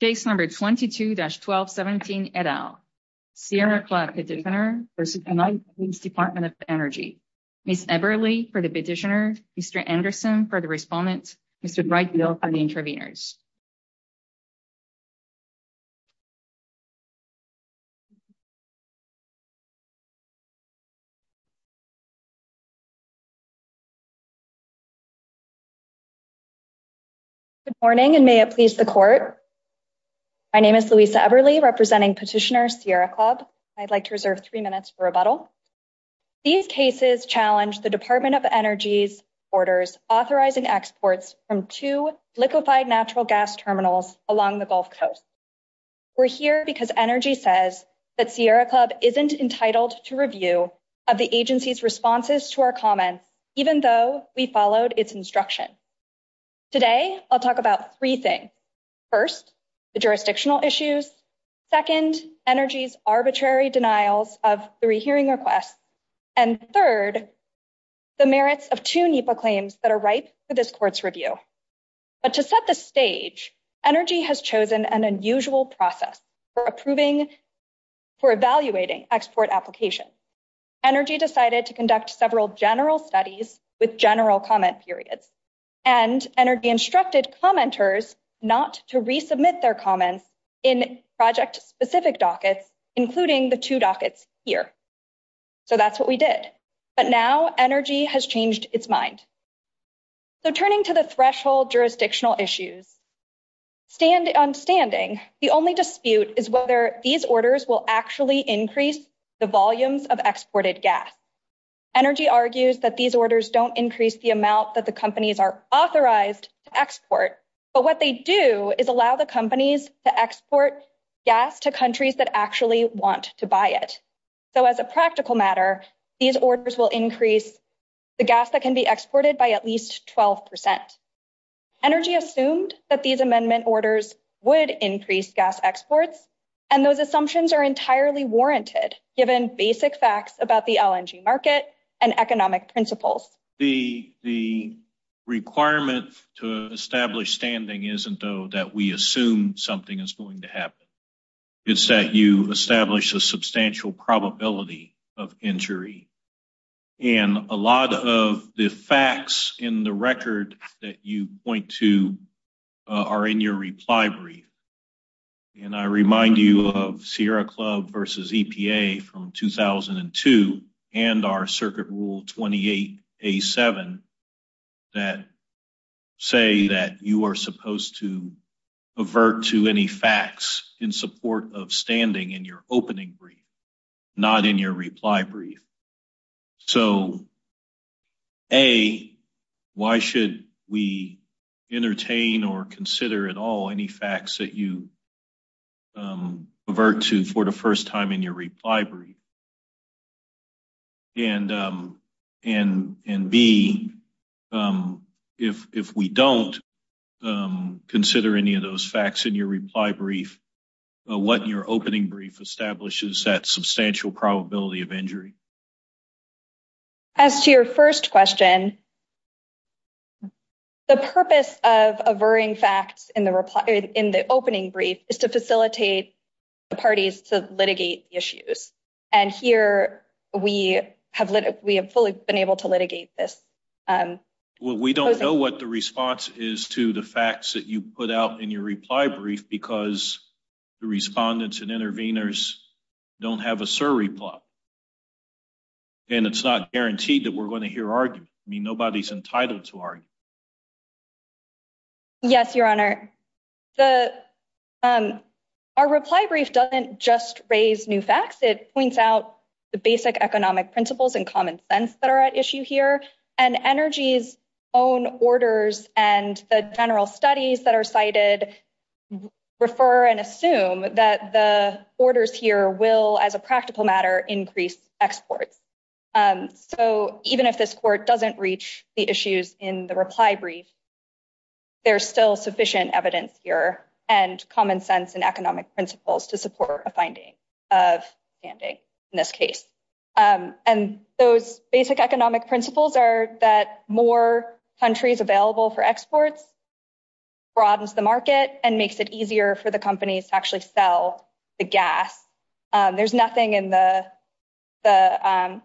Case number 22-1217, et al. Sierra Club Petitioner v. United States Department of Energy. Ms. Eberle for the petitioner, Mr. Anderson for the respondent, Mr. Brightfield for the interveners. Good morning, and may it please the Court. My name is Louisa Eberle, representing Petitioner Sierra Club. I'd like to reserve three minutes for rebuttal. These cases challenge the Department of Energy's orders authorizing exports from two liquefied natural gas terminals along the Gulf Coast. We're here because Energy says that Sierra Club isn't entitled to review of the agency's responses to our comments, even though we followed its instruction. Today, I'll talk about three things. First, the jurisdictional issues. Second, Energy's arbitrary denials of three hearing requests. And third, the merits of two NEPA claims that are ripe for this Court's review. But to set the stage, Energy has chosen an unusual process for approving, for evaluating export applications. Energy decided to conduct several general studies with general comment periods. And Energy instructed commenters not to resubmit their comments in project-specific dockets, including the two dockets here. So that's what we did. But now Energy has changed its mind. So turning to the threshold jurisdictional issues. On standing, the only dispute is whether these orders will actually increase the volumes of exported gas. Energy argues that these orders don't increase the amount that the companies are authorized to export. But what they do is allow the companies to export gas to countries that actually want to buy it. So as a practical matter, these orders will increase the gas that can be exported by at least 12%. Energy assumed that these amendment orders would increase gas exports. And those assumptions are entirely warranted, given basic facts about the LNG market and economic principles. The requirement to establish standing isn't, though, that we assume something is going to happen. It's that you establish a substantial probability of injury. And a lot of the facts in the record that you point to are in your reply brief. And I remind you of Sierra Club versus EPA from 2002 and our Circuit Rule 28A7 that say that you are supposed to in support of standing in your opening brief, not in your reply brief. So, A, why should we entertain or consider at all any facts that you revert to for the first time in your reply brief? And, B, if we don't consider any of those facts in your reply brief, what in your opening brief establishes that substantial probability of injury? As to your first question, the purpose of averring facts in the opening brief is to facilitate the parties to litigate the issues. And here, we have fully been able to litigate this. Well, we don't know what the response is to the facts that you put out in your reply brief because the respondents and interveners don't have a SIR reply. And it's not guaranteed that we're going to hear arguments. I mean, nobody's entitled to argue. Yes, Your Honor. Our reply brief doesn't just raise new facts. It points out the basic economic principles and common sense that are at issue here. And Energy's own orders and the general studies that are cited refer and assume that the orders here will, as a practical matter, increase exports. So, even if this Court doesn't reach the issues in the reply brief, there's still sufficient evidence here and common sense and economic principles to support a finding of standing in this case. And those basic economic principles are that more countries available for exports broadens the market and makes it easier for the companies to actually sell the gas. There's nothing in the... But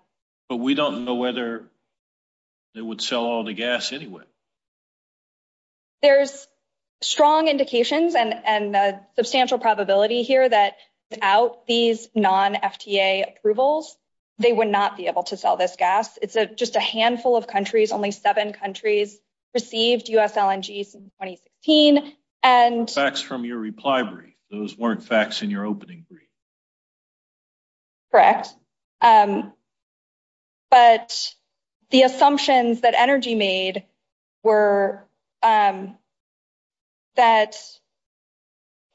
we don't know whether they would sell all the gas anyway. There's strong indications and a substantial probability here that without these non-FTA approvals, they would not be able to sell this gas. It's just a handful of countries. Only seven countries received US LNGs in 2016. And... Facts from your reply brief. Those weren't facts in your opening brief. Correct. But the assumptions that Energy made were that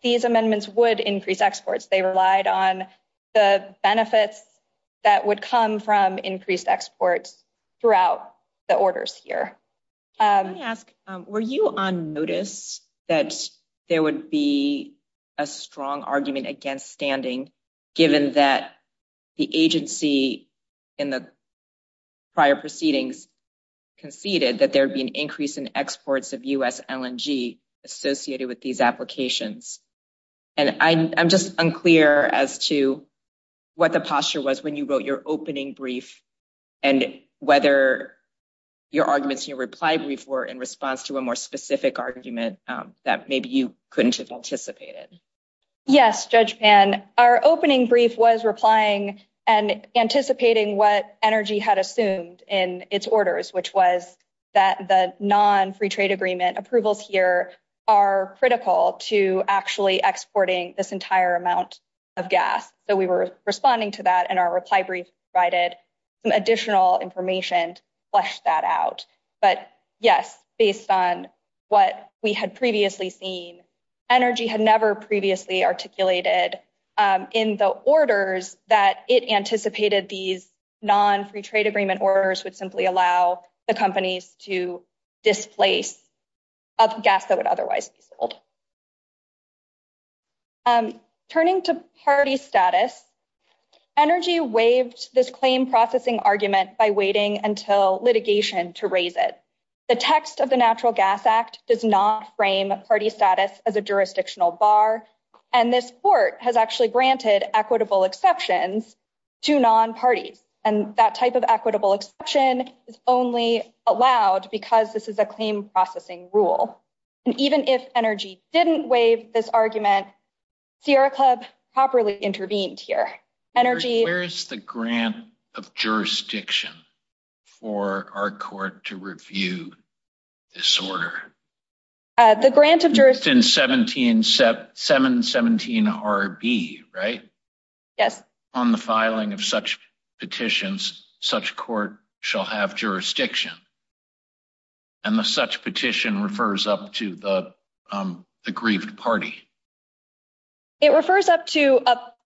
these amendments would increase exports. They relied on the benefits that would come from increased exports throughout the orders here. Can I ask, were you on notice that there would be a strong argument against standing, given that the agency in the prior proceedings conceded that there would be an increase in exports of US LNG associated with these applications? And I'm just unclear as to what the posture was when you wrote your opening brief and whether your arguments in your reply brief were in response to a more specific argument that maybe you couldn't have anticipated. Yes, Judge Pan. Our opening brief was replying and anticipating what Energy had assumed in its orders, which was that the non-Free Trade Agreement approvals here are critical to actually exporting this entire amount of gas. So we were responding to that and our reply brief provided some additional information to flesh that out. But yes, based on what we had previously seen, Energy had never previously articulated in the orders that it anticipated these non-Free Trade Agreement orders would simply allow the companies to displace gas that would otherwise be sold. Turning to party status, Energy waived this claim processing argument by waiting until litigation to raise it. The text of the Natural Gas Act does not frame party status as a jurisdictional bar. And this court has actually granted equitable exceptions to non-parties. And that type of equitable exception is only allowed because this is a claim processing rule. And even if Energy didn't waive this argument, Sierra Club properly intervened here. Where is the grant of jurisdiction for our court to review this order? The grant of jurisdiction... It's in 717RB, right? Yes. On the filing of such petitions, such court shall have jurisdiction. And the such petition refers up to the aggrieved party. It refers up to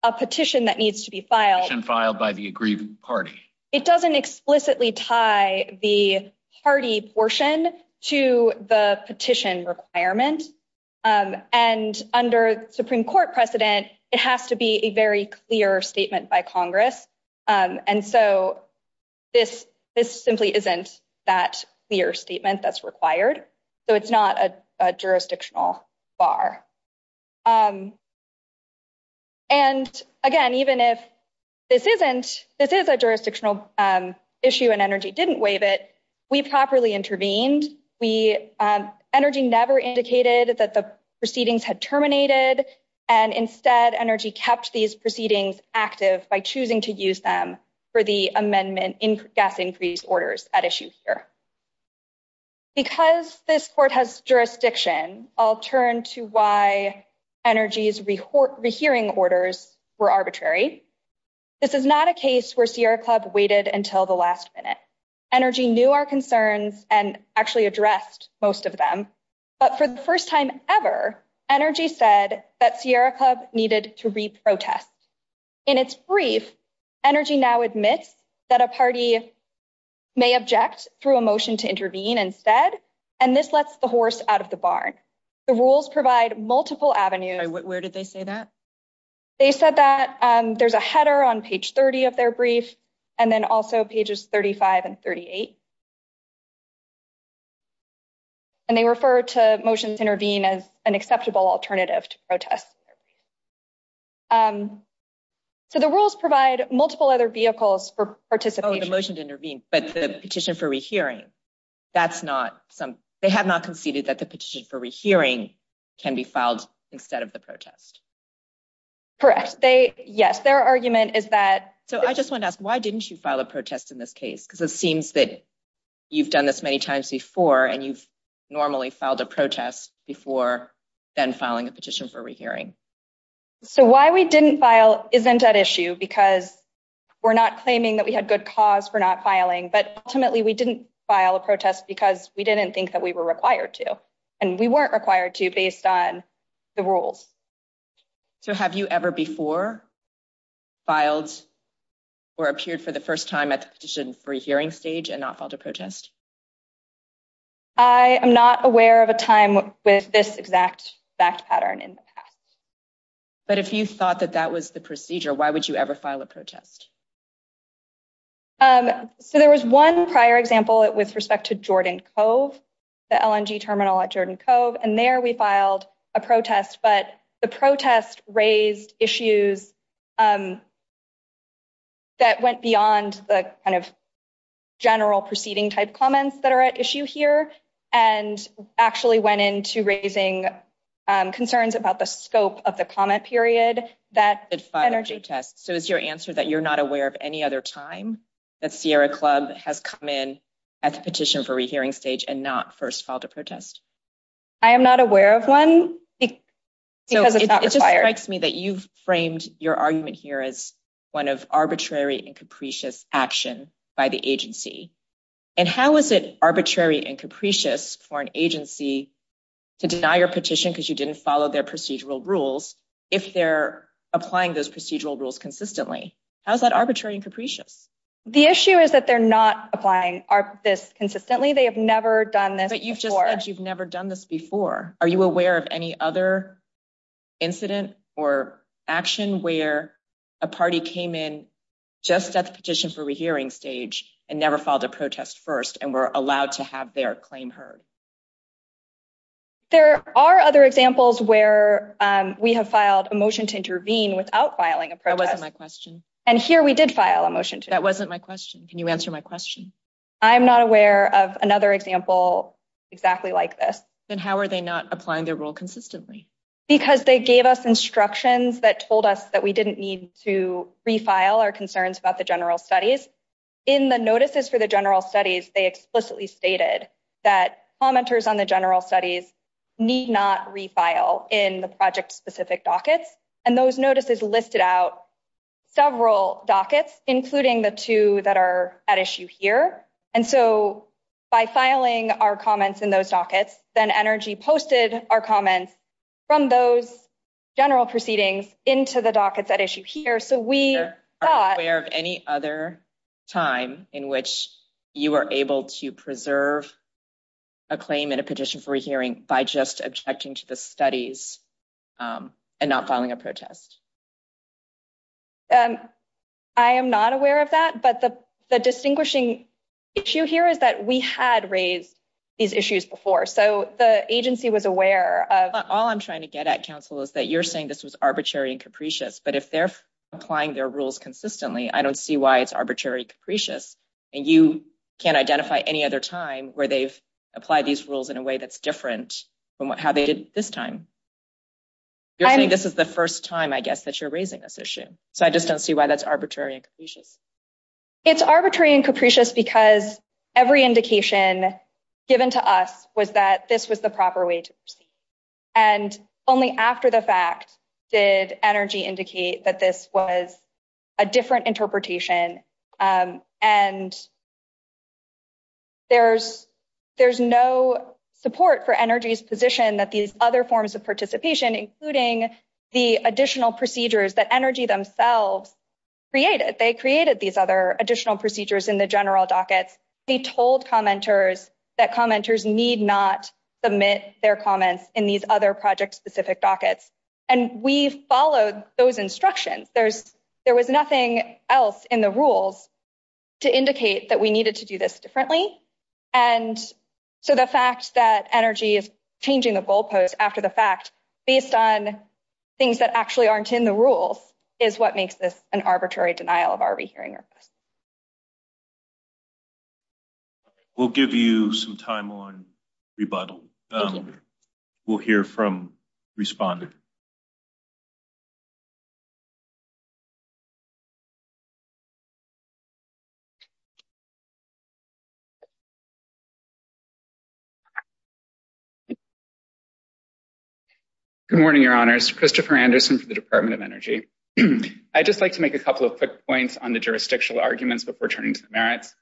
a petition that needs to be filed. Petition filed by the aggrieved party. It doesn't explicitly tie the party portion to the petition requirement. And under Supreme Court precedent, it has to be a very clear statement by Congress. And so this simply isn't that clear statement that's required. So it's not a jurisdictional bar. And again, even if this is a jurisdictional issue and Energy didn't waive it, we properly intervened. Energy never indicated that the proceedings had terminated. And instead, Energy kept these proceedings active by choosing to use them for the amendment in gas increase orders at issue here. Because this court has jurisdiction, I'll turn to why Energy's rehearing orders were arbitrary. This is not a case where Sierra Club waited until the last minute. Energy knew our concerns and actually addressed most of them. But for the first time ever, Energy said that Sierra Club needed to re-protest. In its brief, Energy now admits that a party may object through a motion to intervene instead. And this lets the horse out of the barn. The rules provide multiple avenues. Where did they say that? They said that there's a header on page 30 of their brief, and then also pages 35 and 38. And they refer to motions intervene as an acceptable alternative to protest. So the rules provide multiple other vehicles for participation. Oh, the motion to intervene, but the petition for rehearing. That's not some... They have not conceded that the petition for rehearing can be filed instead of the protest. Correct. They... Yes, their argument is that... So I just want to ask, why didn't you file a protest in this case? Because it seems that you've done this many times before, and you've normally filed a protest before then filing a petition for rehearing. So why we didn't file isn't at issue because we're not claiming that we had good cause for not filing. But ultimately, we didn't file a protest because we didn't think that we were required to. And we weren't required to based on the rules. So have you ever before filed or appeared for the first time at the petition for hearing stage and not filed a protest? I am not aware of a time with this exact fact pattern in the past. But if you thought that that was the procedure, why would you ever file a protest? So there was one prior example with respect to Jordan Cove, the LNG terminal at Jordan Cove, and there we filed a protest. But the protest raised issues that went beyond the kind of general proceeding type comments that are at issue here, and actually went into raising concerns about the scope of the comment period. So is your answer that you're not aware of any other time that Sierra Club has come in at the petition for rehearing stage and not first filed a protest? I am not aware of one. So it just strikes me that you've framed your argument here as one of arbitrary and capricious action by the agency. And how is it arbitrary and capricious for an agency to deny your petition because you didn't follow their procedural rules if they're applying those procedural rules consistently? How is that arbitrary and capricious? The issue is that they're not applying this consistently. They have never done this before. But you've just said you've never done this before. Are you aware of any other incident or action where a party came in just at the petition for rehearing stage and never filed a protest first, and were allowed to have their claim heard? There are other examples where we have filed a motion to intervene without filing a protest. That wasn't my question. And here we did file a motion. That wasn't my question. Can you answer my question? I'm not aware of another example exactly like this. Then how are they not applying their rule consistently? Because they gave us instructions that told us that we didn't need to the general studies. In the notices for the general studies, they explicitly stated that commenters on the general studies need not refile in the project-specific dockets. And those notices listed out several dockets, including the two that are at issue here. And so by filing our comments in those dockets, then NRG posted our comments from those general proceedings into the dockets at issue here. Are you aware of any other time in which you were able to preserve a claim in a petition for a hearing by just objecting to the studies and not filing a protest? I am not aware of that. But the distinguishing issue here is that we had raised these issues before. So the agency was aware of... All I'm trying to get at, counsel, is that you're saying this was arbitrary and capricious. But if they're applying their rules consistently, I don't see why it's arbitrary and capricious. And you can't identify any other time where they've applied these rules in a way that's different from how they did this time. You're saying this is the first time, I guess, that you're raising this issue. So I just don't see why that's arbitrary and capricious. It's arbitrary and capricious because every indication given to us was that this was the proper way to proceed. And only after the fact did Energy indicate that this was a different interpretation. And there's no support for Energy's position that these other forms of participation, including the additional procedures that Energy themselves created. They created these other additional procedures in the general dockets. They told commenters that commenters need not submit their comments in these other project-specific dockets. And we followed those instructions. There was nothing else in the rules to indicate that we needed to do this differently. And so the fact that Energy is changing the goalpost after the fact, based on things that actually aren't in the rules, is what makes this an arbitrary denial of our rehearing requests. We'll give you some time on rebuttal. We'll hear from respondent. Good morning, Your Honors. Christopher Anderson for the Department of Energy. I'd just like to make a couple of quick points on the jurisdictional arguments before turning to the merits.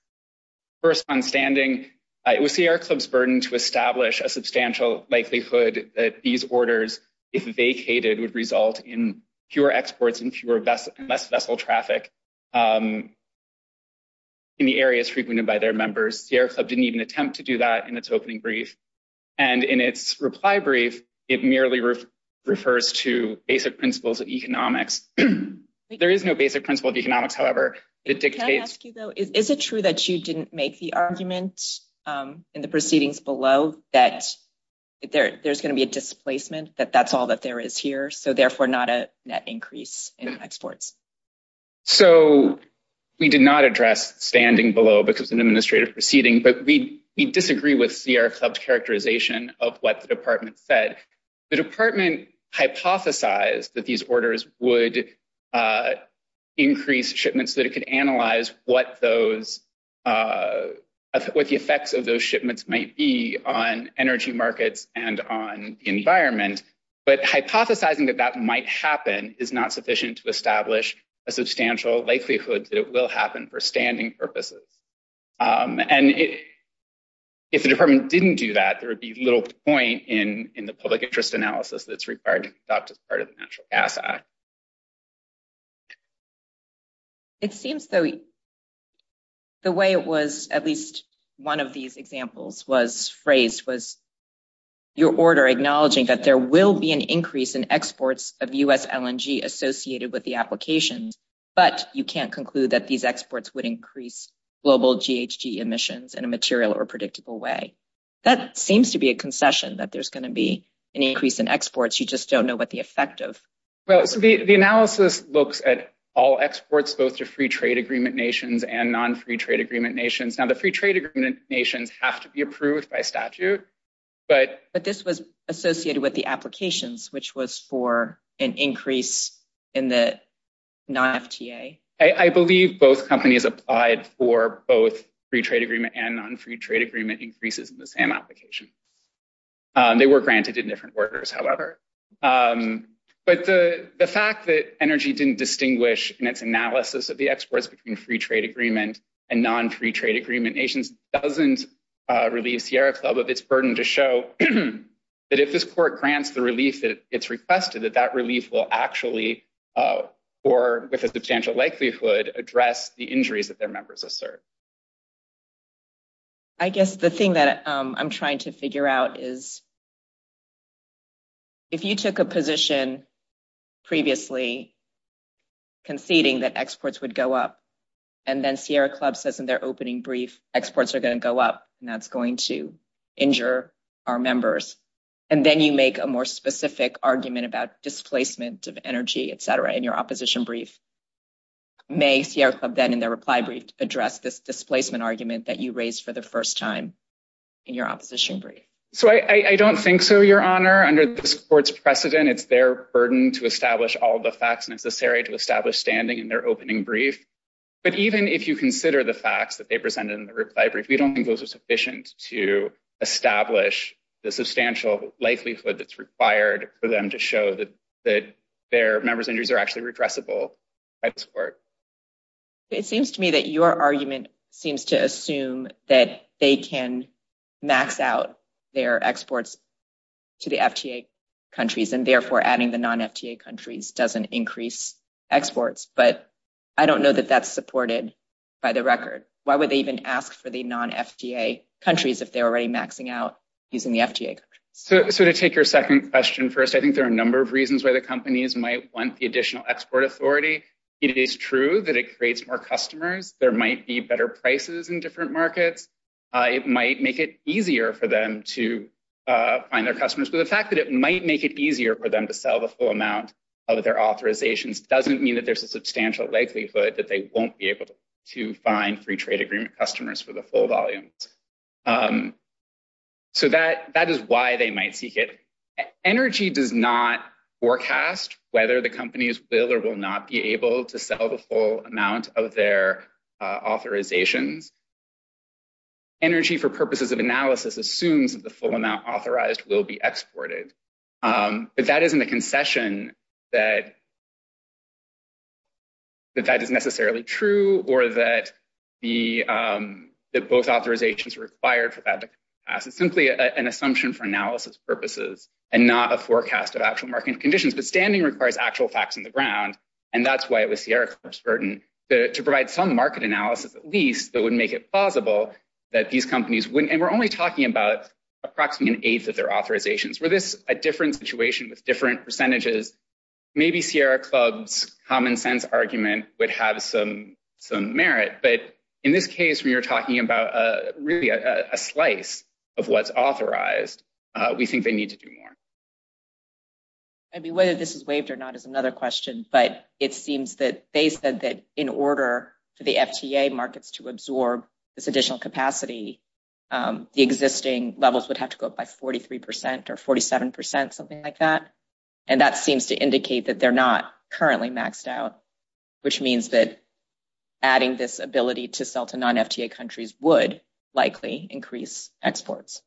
First, on standing, it was Sierra Club's burden to establish a substantial likelihood that these orders, if vacated, would result in fewer exports and less vessel traffic in the areas frequented by their members. Sierra Club didn't even attempt to do that in its opening brief. And in its reply brief, it merely refers to basic principles of economics. There is no basic principle of economics, however. Can I ask you, though, is it true that you didn't make the argument in the proceedings below that there's going to be a displacement, that that's all that there is here, so therefore not a net increase in exports? So we did not address standing below because of an administrative proceeding, but we disagree with Sierra Club's characterization of what the department said. The department hypothesized that these orders would increase shipments so that it could analyze what those, what the effects of those shipments might be on energy markets and on the environment. But hypothesizing that that might happen is not sufficient to establish a substantial likelihood that it will happen for standing purposes. And if the department didn't do that, there would be little point in the public interest analysis that's required to be adopted as part of the Natural Gas Act. It seems, though, the way it was, at least one of these examples was phrased was your order acknowledging that there will be an increase in exports of US LNG associated with the applications, but you can't conclude that these exports would increase global GHG emissions in a material or predictable way. That seems to be a concession, that there's going to be an increase in exports. You just don't know what the effect of. Well, the analysis looks at all exports, both to free trade agreement nations and non-free trade agreement nations. Now, the free trade agreement nations have to be approved by statute, but. But this was associated with the applications, which was for an increase in the non-FTA. I believe both companies applied for both free trade agreement and non-free trade agreement increases in the same application. They were granted in different orders, however. But the fact that energy didn't distinguish in its analysis of the exports between free trade agreement and non-free trade agreement nations doesn't relieve Sierra Club of its burden to show that if this court grants the relief that it's requested, that that relief will actually or with a substantial likelihood address the injuries that their members assert. I guess the thing that I'm trying to figure out is. If you took a position previously. Conceding that exports would go up and then Sierra Club says in their opening brief, exports are going to go up and that's going to injure our members and then you make a more specific argument about displacement of energy, et cetera, in your opposition brief. May Sierra Club then in their reply brief address this displacement argument that you raised for the first time in your opposition brief. So I don't think so, Your Honor. Under this court's precedent, it's their burden to establish all the facts necessary to establish standing in their opening brief. But even if you consider the facts that they presented in the reply brief, we don't think those are sufficient to establish the substantial likelihood that's required for them to show that that their members injuries are actually redressable. I support. It seems to me that your argument seems to assume that they can max out their exports to the FTA countries and therefore adding the non FTA countries doesn't increase exports, but I don't know that that's supported by the record. Why would they even ask for the non FTA countries if they're already maxing out using the FTA? So to take your second question first, I think there are a number of reasons why the companies might want the additional export authority. It is true that it creates more customers. There might be better prices in different markets. It might make it easier for them to find their customers. But the fact that it might make it easier for them to sell the full amount of their authorizations doesn't mean that there's a substantial likelihood that they won't be able to find free trade agreement customers for the full volume. So that is why they might seek it. Energy does not forecast whether the companies will or will not be able to sell the full amount of their authorizations. Energy, for purposes of analysis, assumes that the full amount authorized will be exported. But that isn't a concession that that is necessarily true or that the both authorizations required for that to pass. It's simply an assumption for analysis purposes and not a forecast of actual market conditions. But standing requires actual facts on the ground. And that's why it was Sierra Club's burden to provide some market analysis, at least, that would make it plausible that these companies wouldn't. And we're only talking about approximately an eighth of their authorizations. Were this a different situation with different percentages, maybe Sierra Club's common sense argument would have some merit. But in this case, when you're talking about a slice of what's authorized, we think they need to do more. I mean, whether this is waived or not is another question. But it seems that they said that in order for the FTA markets to absorb this additional capacity, the existing levels would have to go up by 43 percent or 47 percent, something like that. And that seems to indicate that they're not currently maxed out, which means that adding this ability to sell to non-FTA countries would likely increase exports.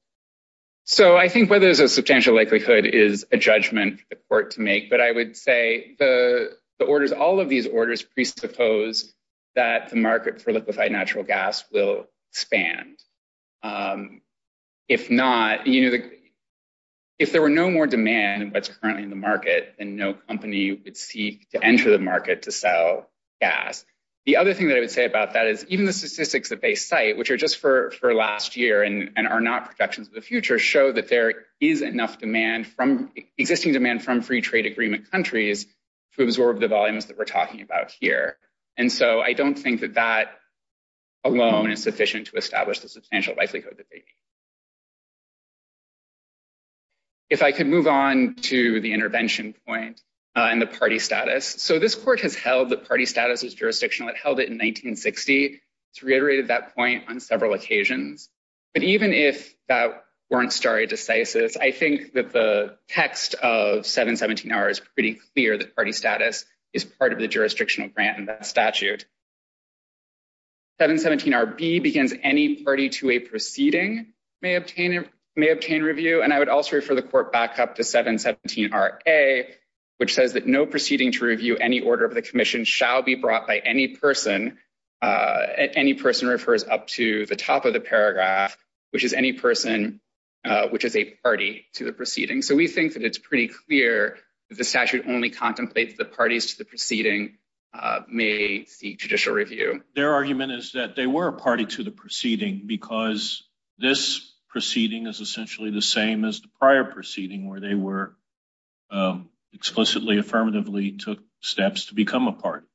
So I think whether there's a substantial likelihood is a judgment for the court to make. But I would say the orders, all of these orders presuppose that the market for liquefied natural gas will expand. If not, you know, if there were no more demand what's currently in the market and no company would seek to enter the market to sell gas. The other thing that I would say about that is even the statistics that they cite, which are just for last year and are not projections of the future, show that there is enough demand from existing demand from free trade agreement countries to absorb the volumes that we're talking about here. And so I don't think that that alone is sufficient to establish the substantial likelihood that they need. If I could move on to the intervention point and the party status. So this court has held that party status is jurisdictional. It held it in 1960. It's reiterated that point on several occasions. But even if that weren't stare decisis, I think that the text of 717-R is pretty clear that party status is part of the jurisdictional grant in that statute. 717-RB begins any party to a proceeding may obtain review. And I would also refer the court back up to 717-RA, which says that no proceeding to review any order of the commission shall be brought by any person. Any person refers up to the top of the paragraph, which is any person which is a party to the proceeding. So we think that it's pretty clear that the statute only contemplates the parties to the proceeding may seek judicial review. Their argument is that they were a party to the proceeding because this proceeding is the same as the prior proceeding where they were explicitly, affirmatively took steps to become a party.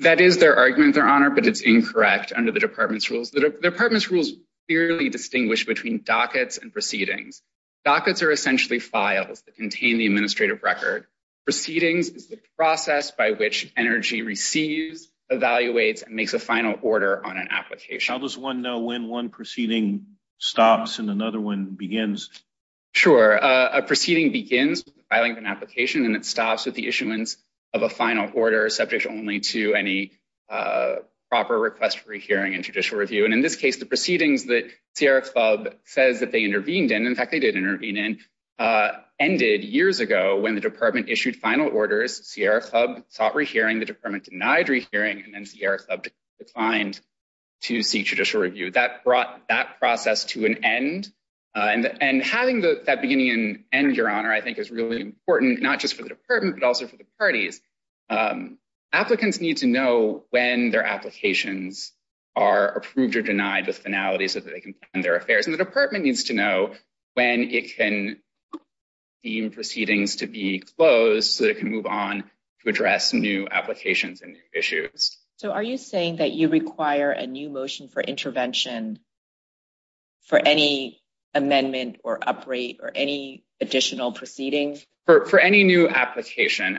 That is their argument, Your Honor, but it's incorrect under the department's rules. The department's rules clearly distinguish between dockets and proceedings. Dockets are essentially files that contain the administrative record. Proceedings is the process by which energy receives, evaluates, and makes a final order on an application. How does one know when one proceeding stops and another one begins? Sure, a proceeding begins filing an application and it stops with the issuance of a final order subject only to any proper request for hearing and judicial review. And in this case, the proceedings that Sierra Club says that they intervened in, in fact, they did intervene in, ended years ago when the department issued final orders. Sierra Club sought rehearing. The department denied rehearing and then Sierra Club declined to seek judicial review. That brought that process to an end. And having that beginning and end, Your Honor, I think is really important, not just for the department, but also for the parties. Applicants need to know when their applications are approved or denied with finality so that they can plan their affairs. And the department needs to know when it can deem proceedings to be closed so that it can move on to address new applications and issues. So, are you saying that you require a new motion for intervention for any amendment or upgrade or any additional proceedings? For any new application,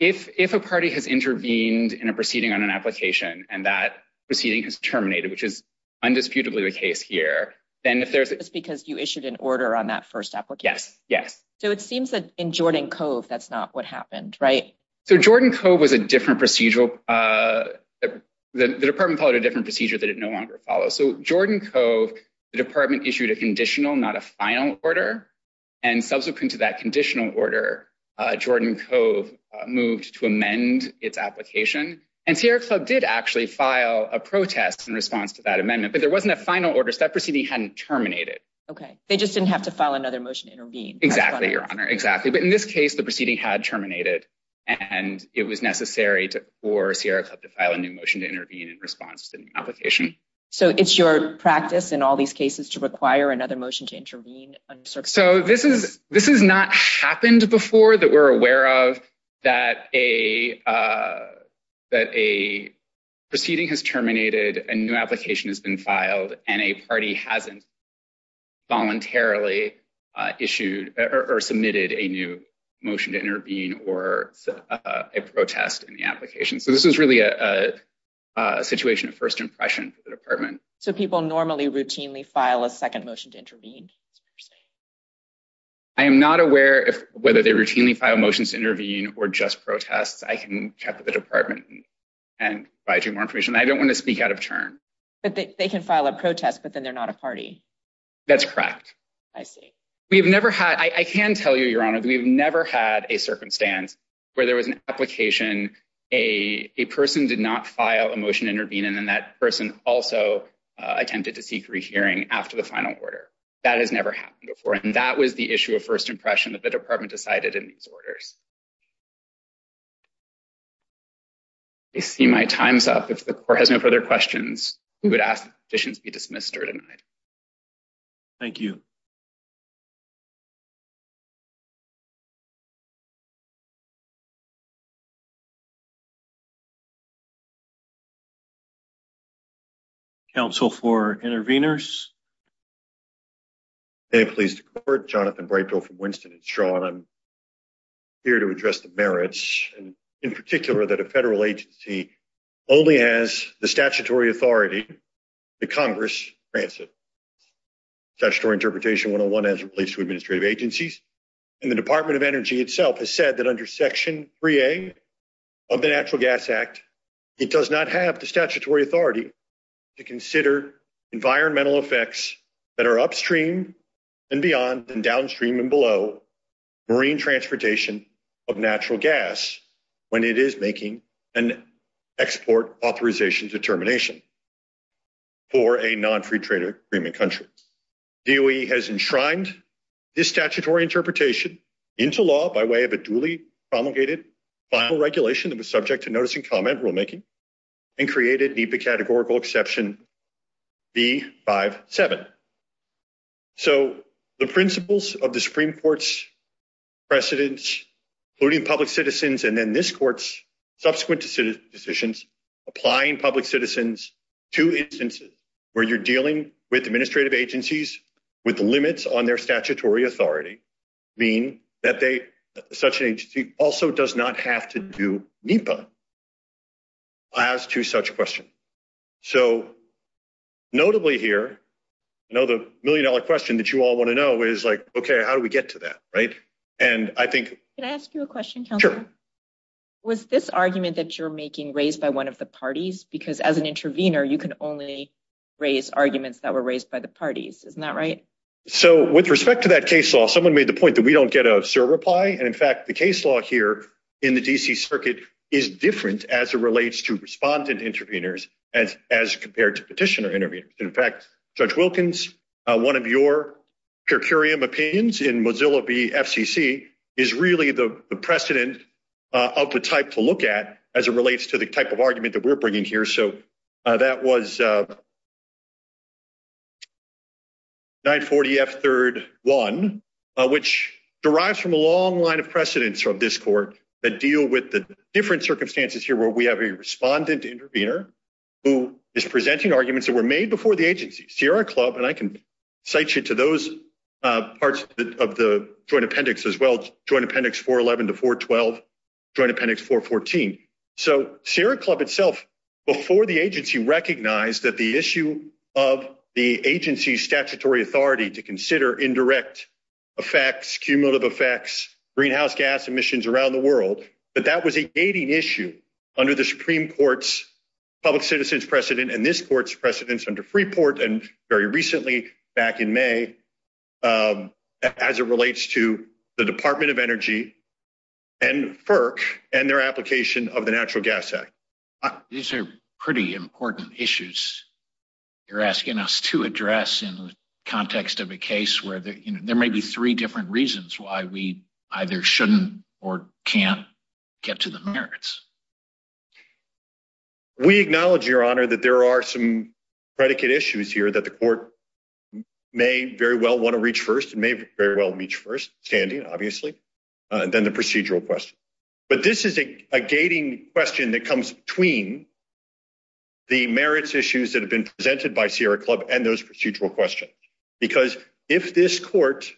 if a party has intervened in a proceeding on an application and that proceeding has terminated, which is undisputably the case here, then if there's... Just because you issued an order on that first application? Yes, yes. So, it seems that in Jordan Cove, that's not what happened, right? So, Jordan Cove was a different procedural... The department followed a different procedure that it no longer follows. So, Jordan Cove, the department issued a conditional, not a final order. And subsequent to that conditional order, Jordan Cove moved to amend its application. And Sierra Club did actually file a protest in response to that amendment, but there wasn't a final order, so that proceeding hadn't terminated. Okay. They just didn't have to file another motion to intervene. Exactly, Your Honor. Exactly. But in this case, the proceeding had terminated and it was necessary for Sierra Club to file a new motion to intervene in response to the application. So, it's your practice in all these cases to require another motion to intervene? So, this has not happened before that we're aware of that a proceeding has terminated, a new application has been filed, and a party hasn't voluntarily issued or submitted a new motion to intervene or a protest in the application. So, this is really a situation of first impression for the department. So, people normally routinely file a second motion to intervene? I am not aware of whether they routinely file motions to intervene or just protests. I can check with the department and provide you more information. I don't want to speak out of turn. But they can file a protest, but then they're not a party. That's correct. I see. We've never had, I can tell you, Your Honor, we've never had a circumstance where there was an application, a person did not file a motion to intervene, and then that person also attempted to seek rehearing after the final order. That has never happened before, and that was the issue of first impression that the department decided in these orders. I see my time's up. If the court has no further questions, we would ask that the petition be dismissed or denied. Thank you. Counsel for interveners? May it please the court. Jonathan Brightbill from Winston & Shaw, and I'm here to address the merits, and in particular that a federal agency only has the statutory authority that Congress grants it. Statutory Interpretation 101 has at least two administrative agencies, and the Department of Energy itself has said that under Section 3A of the Natural Gas Act, it does not have the statutory authority to consider environmental effects that are upstream and beyond and downstream and below marine transportation of natural gas when it is making an export authorization determination for a non-free trade agreement country. DOE has enshrined this statutory interpretation into law by way of a duly promulgated final regulation that was subject to notice and comment rulemaking and created, need the categorical exception, B-5-7. So, the principles of the Supreme Court's precedents, including public citizens and then this Court's subsequent decisions, applying public citizens to instances where you're dealing with administrative agencies with limits on their statutory authority, mean that such an agency also does not have to do NEPA as to such questions. So, notably here, I know the million-dollar question that you all want to know is, like, okay, how do we get to that, right? And I think— Can I ask you a question, Counselor? Sure. Was this argument that you're making raised by one of the parties? Because as an intervener, you can only raise arguments that were raised by the parties. Isn't that right? So, with respect to that case law, someone made the point that we don't get a SIR reply, and in fact, the case law here in the D.C. Circuit is different as it relates to respondent intervenors as compared to petitioner intervenors. In fact, Judge Wilkins, one of your per curiam opinions in Mozilla v. FCC is really the precedent of the type to look at as it relates to the type of argument that we're bringing here. So, that was 940F3-1, which derives from a long line of precedents from this Court that different circumstances here where we have a respondent intervenor who is presenting arguments that were made before the agency. Sierra Club—and I can cite you to those parts of the Joint Appendix as well, Joint Appendix 411 to 412, Joint Appendix 414. So, Sierra Club itself, before the agency, recognized that the issue of the agency's statutory authority to consider indirect effects, cumulative effects, greenhouse gas emissions around the world, that that was a gating issue under the Supreme Court's public citizens precedent and this Court's precedents under Freeport and very recently back in May as it relates to the Department of Energy and FERC and their application of the Natural Gas Act. These are pretty important issues you're asking us to address in the context of a case where there may be three different reasons why we either shouldn't or can't get to the merits. We acknowledge, Your Honor, that there are some predicate issues here that the Court may very well want to reach first, may very well reach first, standing, obviously, than the procedural question. But this is a gating question that comes between the merits issues that have been And this Court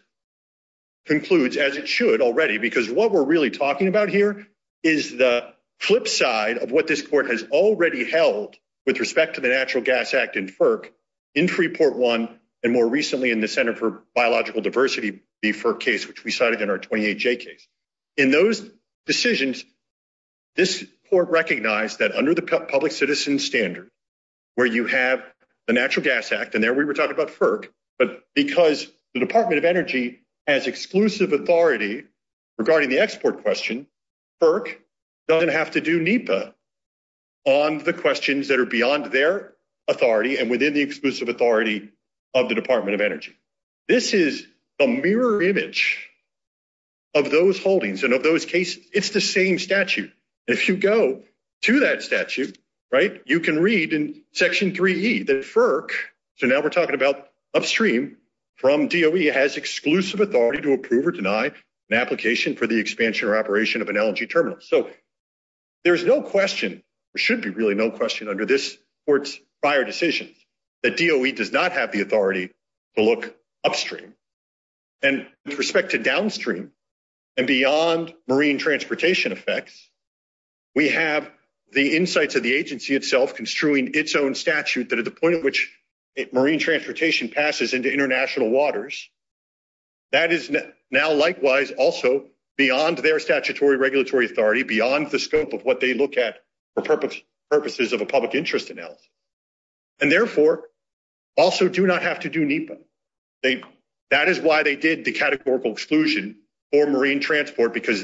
concludes, as it should already, because what we're really talking about here is the flip side of what this Court has already held with respect to the Natural Gas Act and FERC in Freeport I and more recently in the Center for Biological Diversity v. FERC case, which we cited in our 28J case. In those decisions, this Court recognized that under the public citizen standard where you have the Natural Gas Act, and there we were talking about FERC, but because the Department of Energy has exclusive authority regarding the export question, FERC doesn't have to do NEPA on the questions that are beyond their authority and within the exclusive authority of the Department of Energy. This is a mirror image of those holdings and of those cases. It's the same statute. If you go to that statute, you can read in Section 3E that FERC, so now we're talking about upstream from DOE, has exclusive authority to approve or deny an application for the expansion or operation of an LNG terminal. So there's no question, there should be really no question under this Court's prior decisions that DOE does not have the authority to look upstream. And with respect to downstream and beyond marine transportation effects, we have the insights of the agency itself construing its own statute that at the point at which marine transportation passes into international waters, that is now likewise also beyond their statutory regulatory authority, beyond the scope of what they look at for purposes of a public interest in health, and therefore also do not have to do NEPA. They, that is why they did the categorical exclusion for marine transport because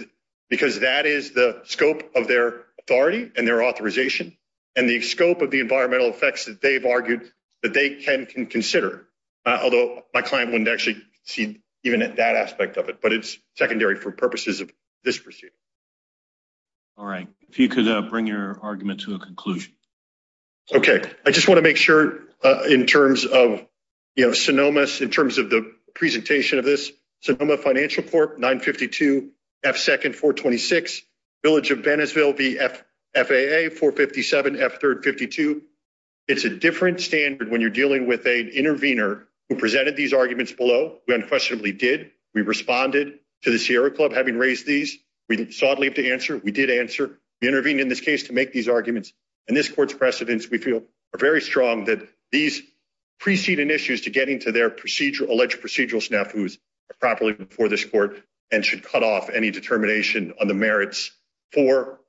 that is the scope of their authority and their authorization and the scope of the environmental effects that they've argued that they can consider. Although my client wouldn't actually see even that aspect of it, but it's secondary for purposes of this procedure. All right. If you could bring your argument to a conclusion. Okay. I just want to make sure in terms of, you know, Sonoma's, in terms of the presentation of this, Sonoma Financial Corp. 952 F. 2nd 426, Village of Bennesville V. F. FAA 457 F. 3rd 52. It's a different standard when you're dealing with an intervener who presented these arguments below. We unquestionably did. We responded to the Sierra Club having raised these. We sought leave to answer. We did answer. We intervened in this case to make these arguments. And this court's precedents we feel are very strong that these preceding issues to getting to their procedural alleged procedural snafu's properly before this court and should cut off any determination on the merits for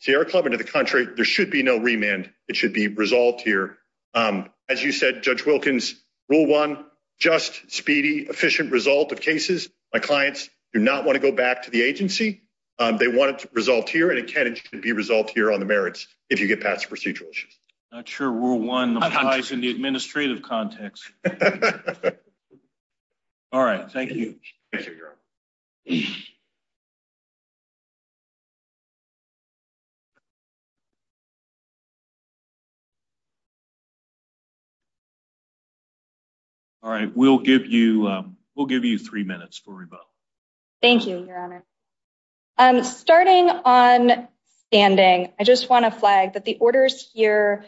Sierra Club into the country. There should be no remand. It should be resolved here. As you said, Judge Wilkins, rule one, just speedy, efficient result of cases. My clients do not want to go back to the agency. They want it to resolve here and it can be resolved here on the merits. If you get past procedural issues, not sure. Rule one applies in the administrative context. All right. Thank you. All right, we'll give you we'll give you three minutes for rebuttal. Thank you, Your Honor. Starting on standing, I just want to flag that the orders here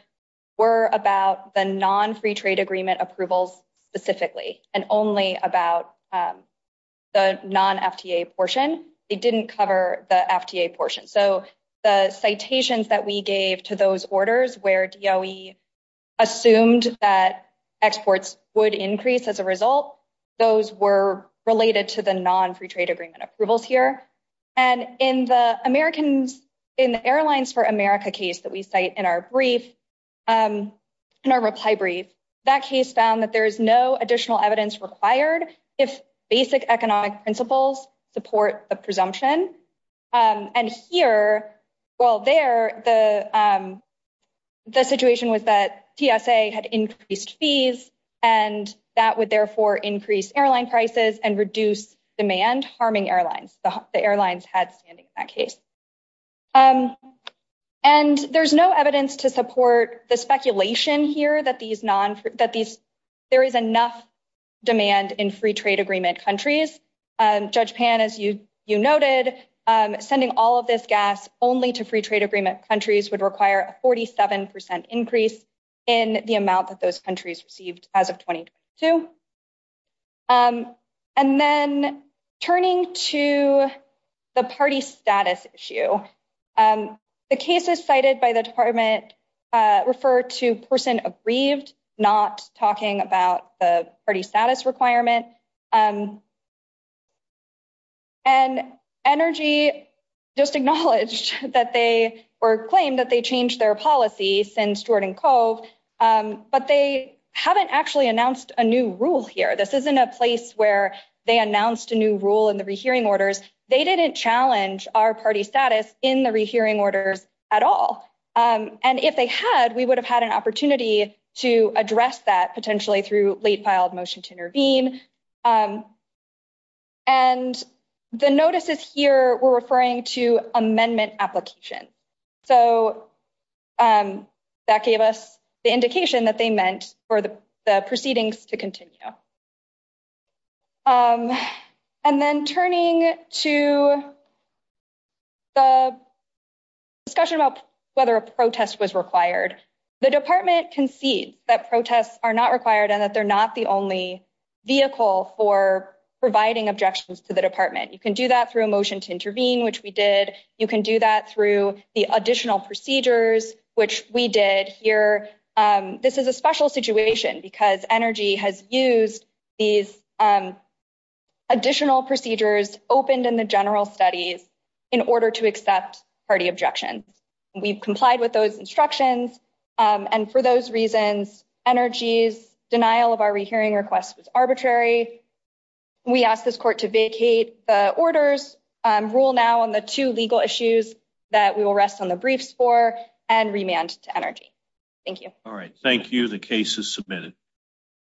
were about the non-free trade agreement approvals specifically and only about the non-FTA portion. It didn't cover the FTA portion. So the citations that we gave to those orders where DOE assumed that exports would increase as a result, those were related to the non-free trade agreement approvals here. In the airlines for America case that we cite in our reply brief, that case found that there is no additional evidence required if basic economic principles support a presumption. And here, well there, the situation was that TSA had increased fees and that would therefore increase airline prices and reduce demand harming airlines. The airlines had standing in that case. And there's no evidence to support the speculation here that there is enough demand in free trade agreement countries. Judge Pan, as you noted, sending all of this gas only to free trade agreement countries would require a 47% increase in the amount that those countries received as of 2022. And then turning to the party status issue, the cases cited by the department refer to person aggrieved, not talking about the party status requirement. And Energy just acknowledged that they were claimed that they changed their policy since Jordan Cove, but they haven't actually announced a new rule here. This isn't a place where they announced a new rule in the rehearing orders. They didn't challenge our party status in the rehearing orders at all. And if they had, we would have had an opportunity to address that potentially through late filed motion to intervene. And the notices here were referring to amendment application. So that gave us the indication that they meant for the proceedings to continue. And then turning to the discussion about whether a protest was required, the department concedes that protests are not required and that they're not the only vehicle for providing objections to the department. You can do that through a motion to intervene, which we did. You can do that through the additional procedures, which we did here. This is a special situation because Energy has used these additional procedures opened in the general studies in order to accept party objections. We've complied with those instructions. And for those reasons, Energy's denial of our rehearing request was arbitrary. We ask this court to vacate the orders, rule now on the two legal issues that we will rest on the briefs for, and remand to Energy. Thank you. All right. Thank you. The case is submitted.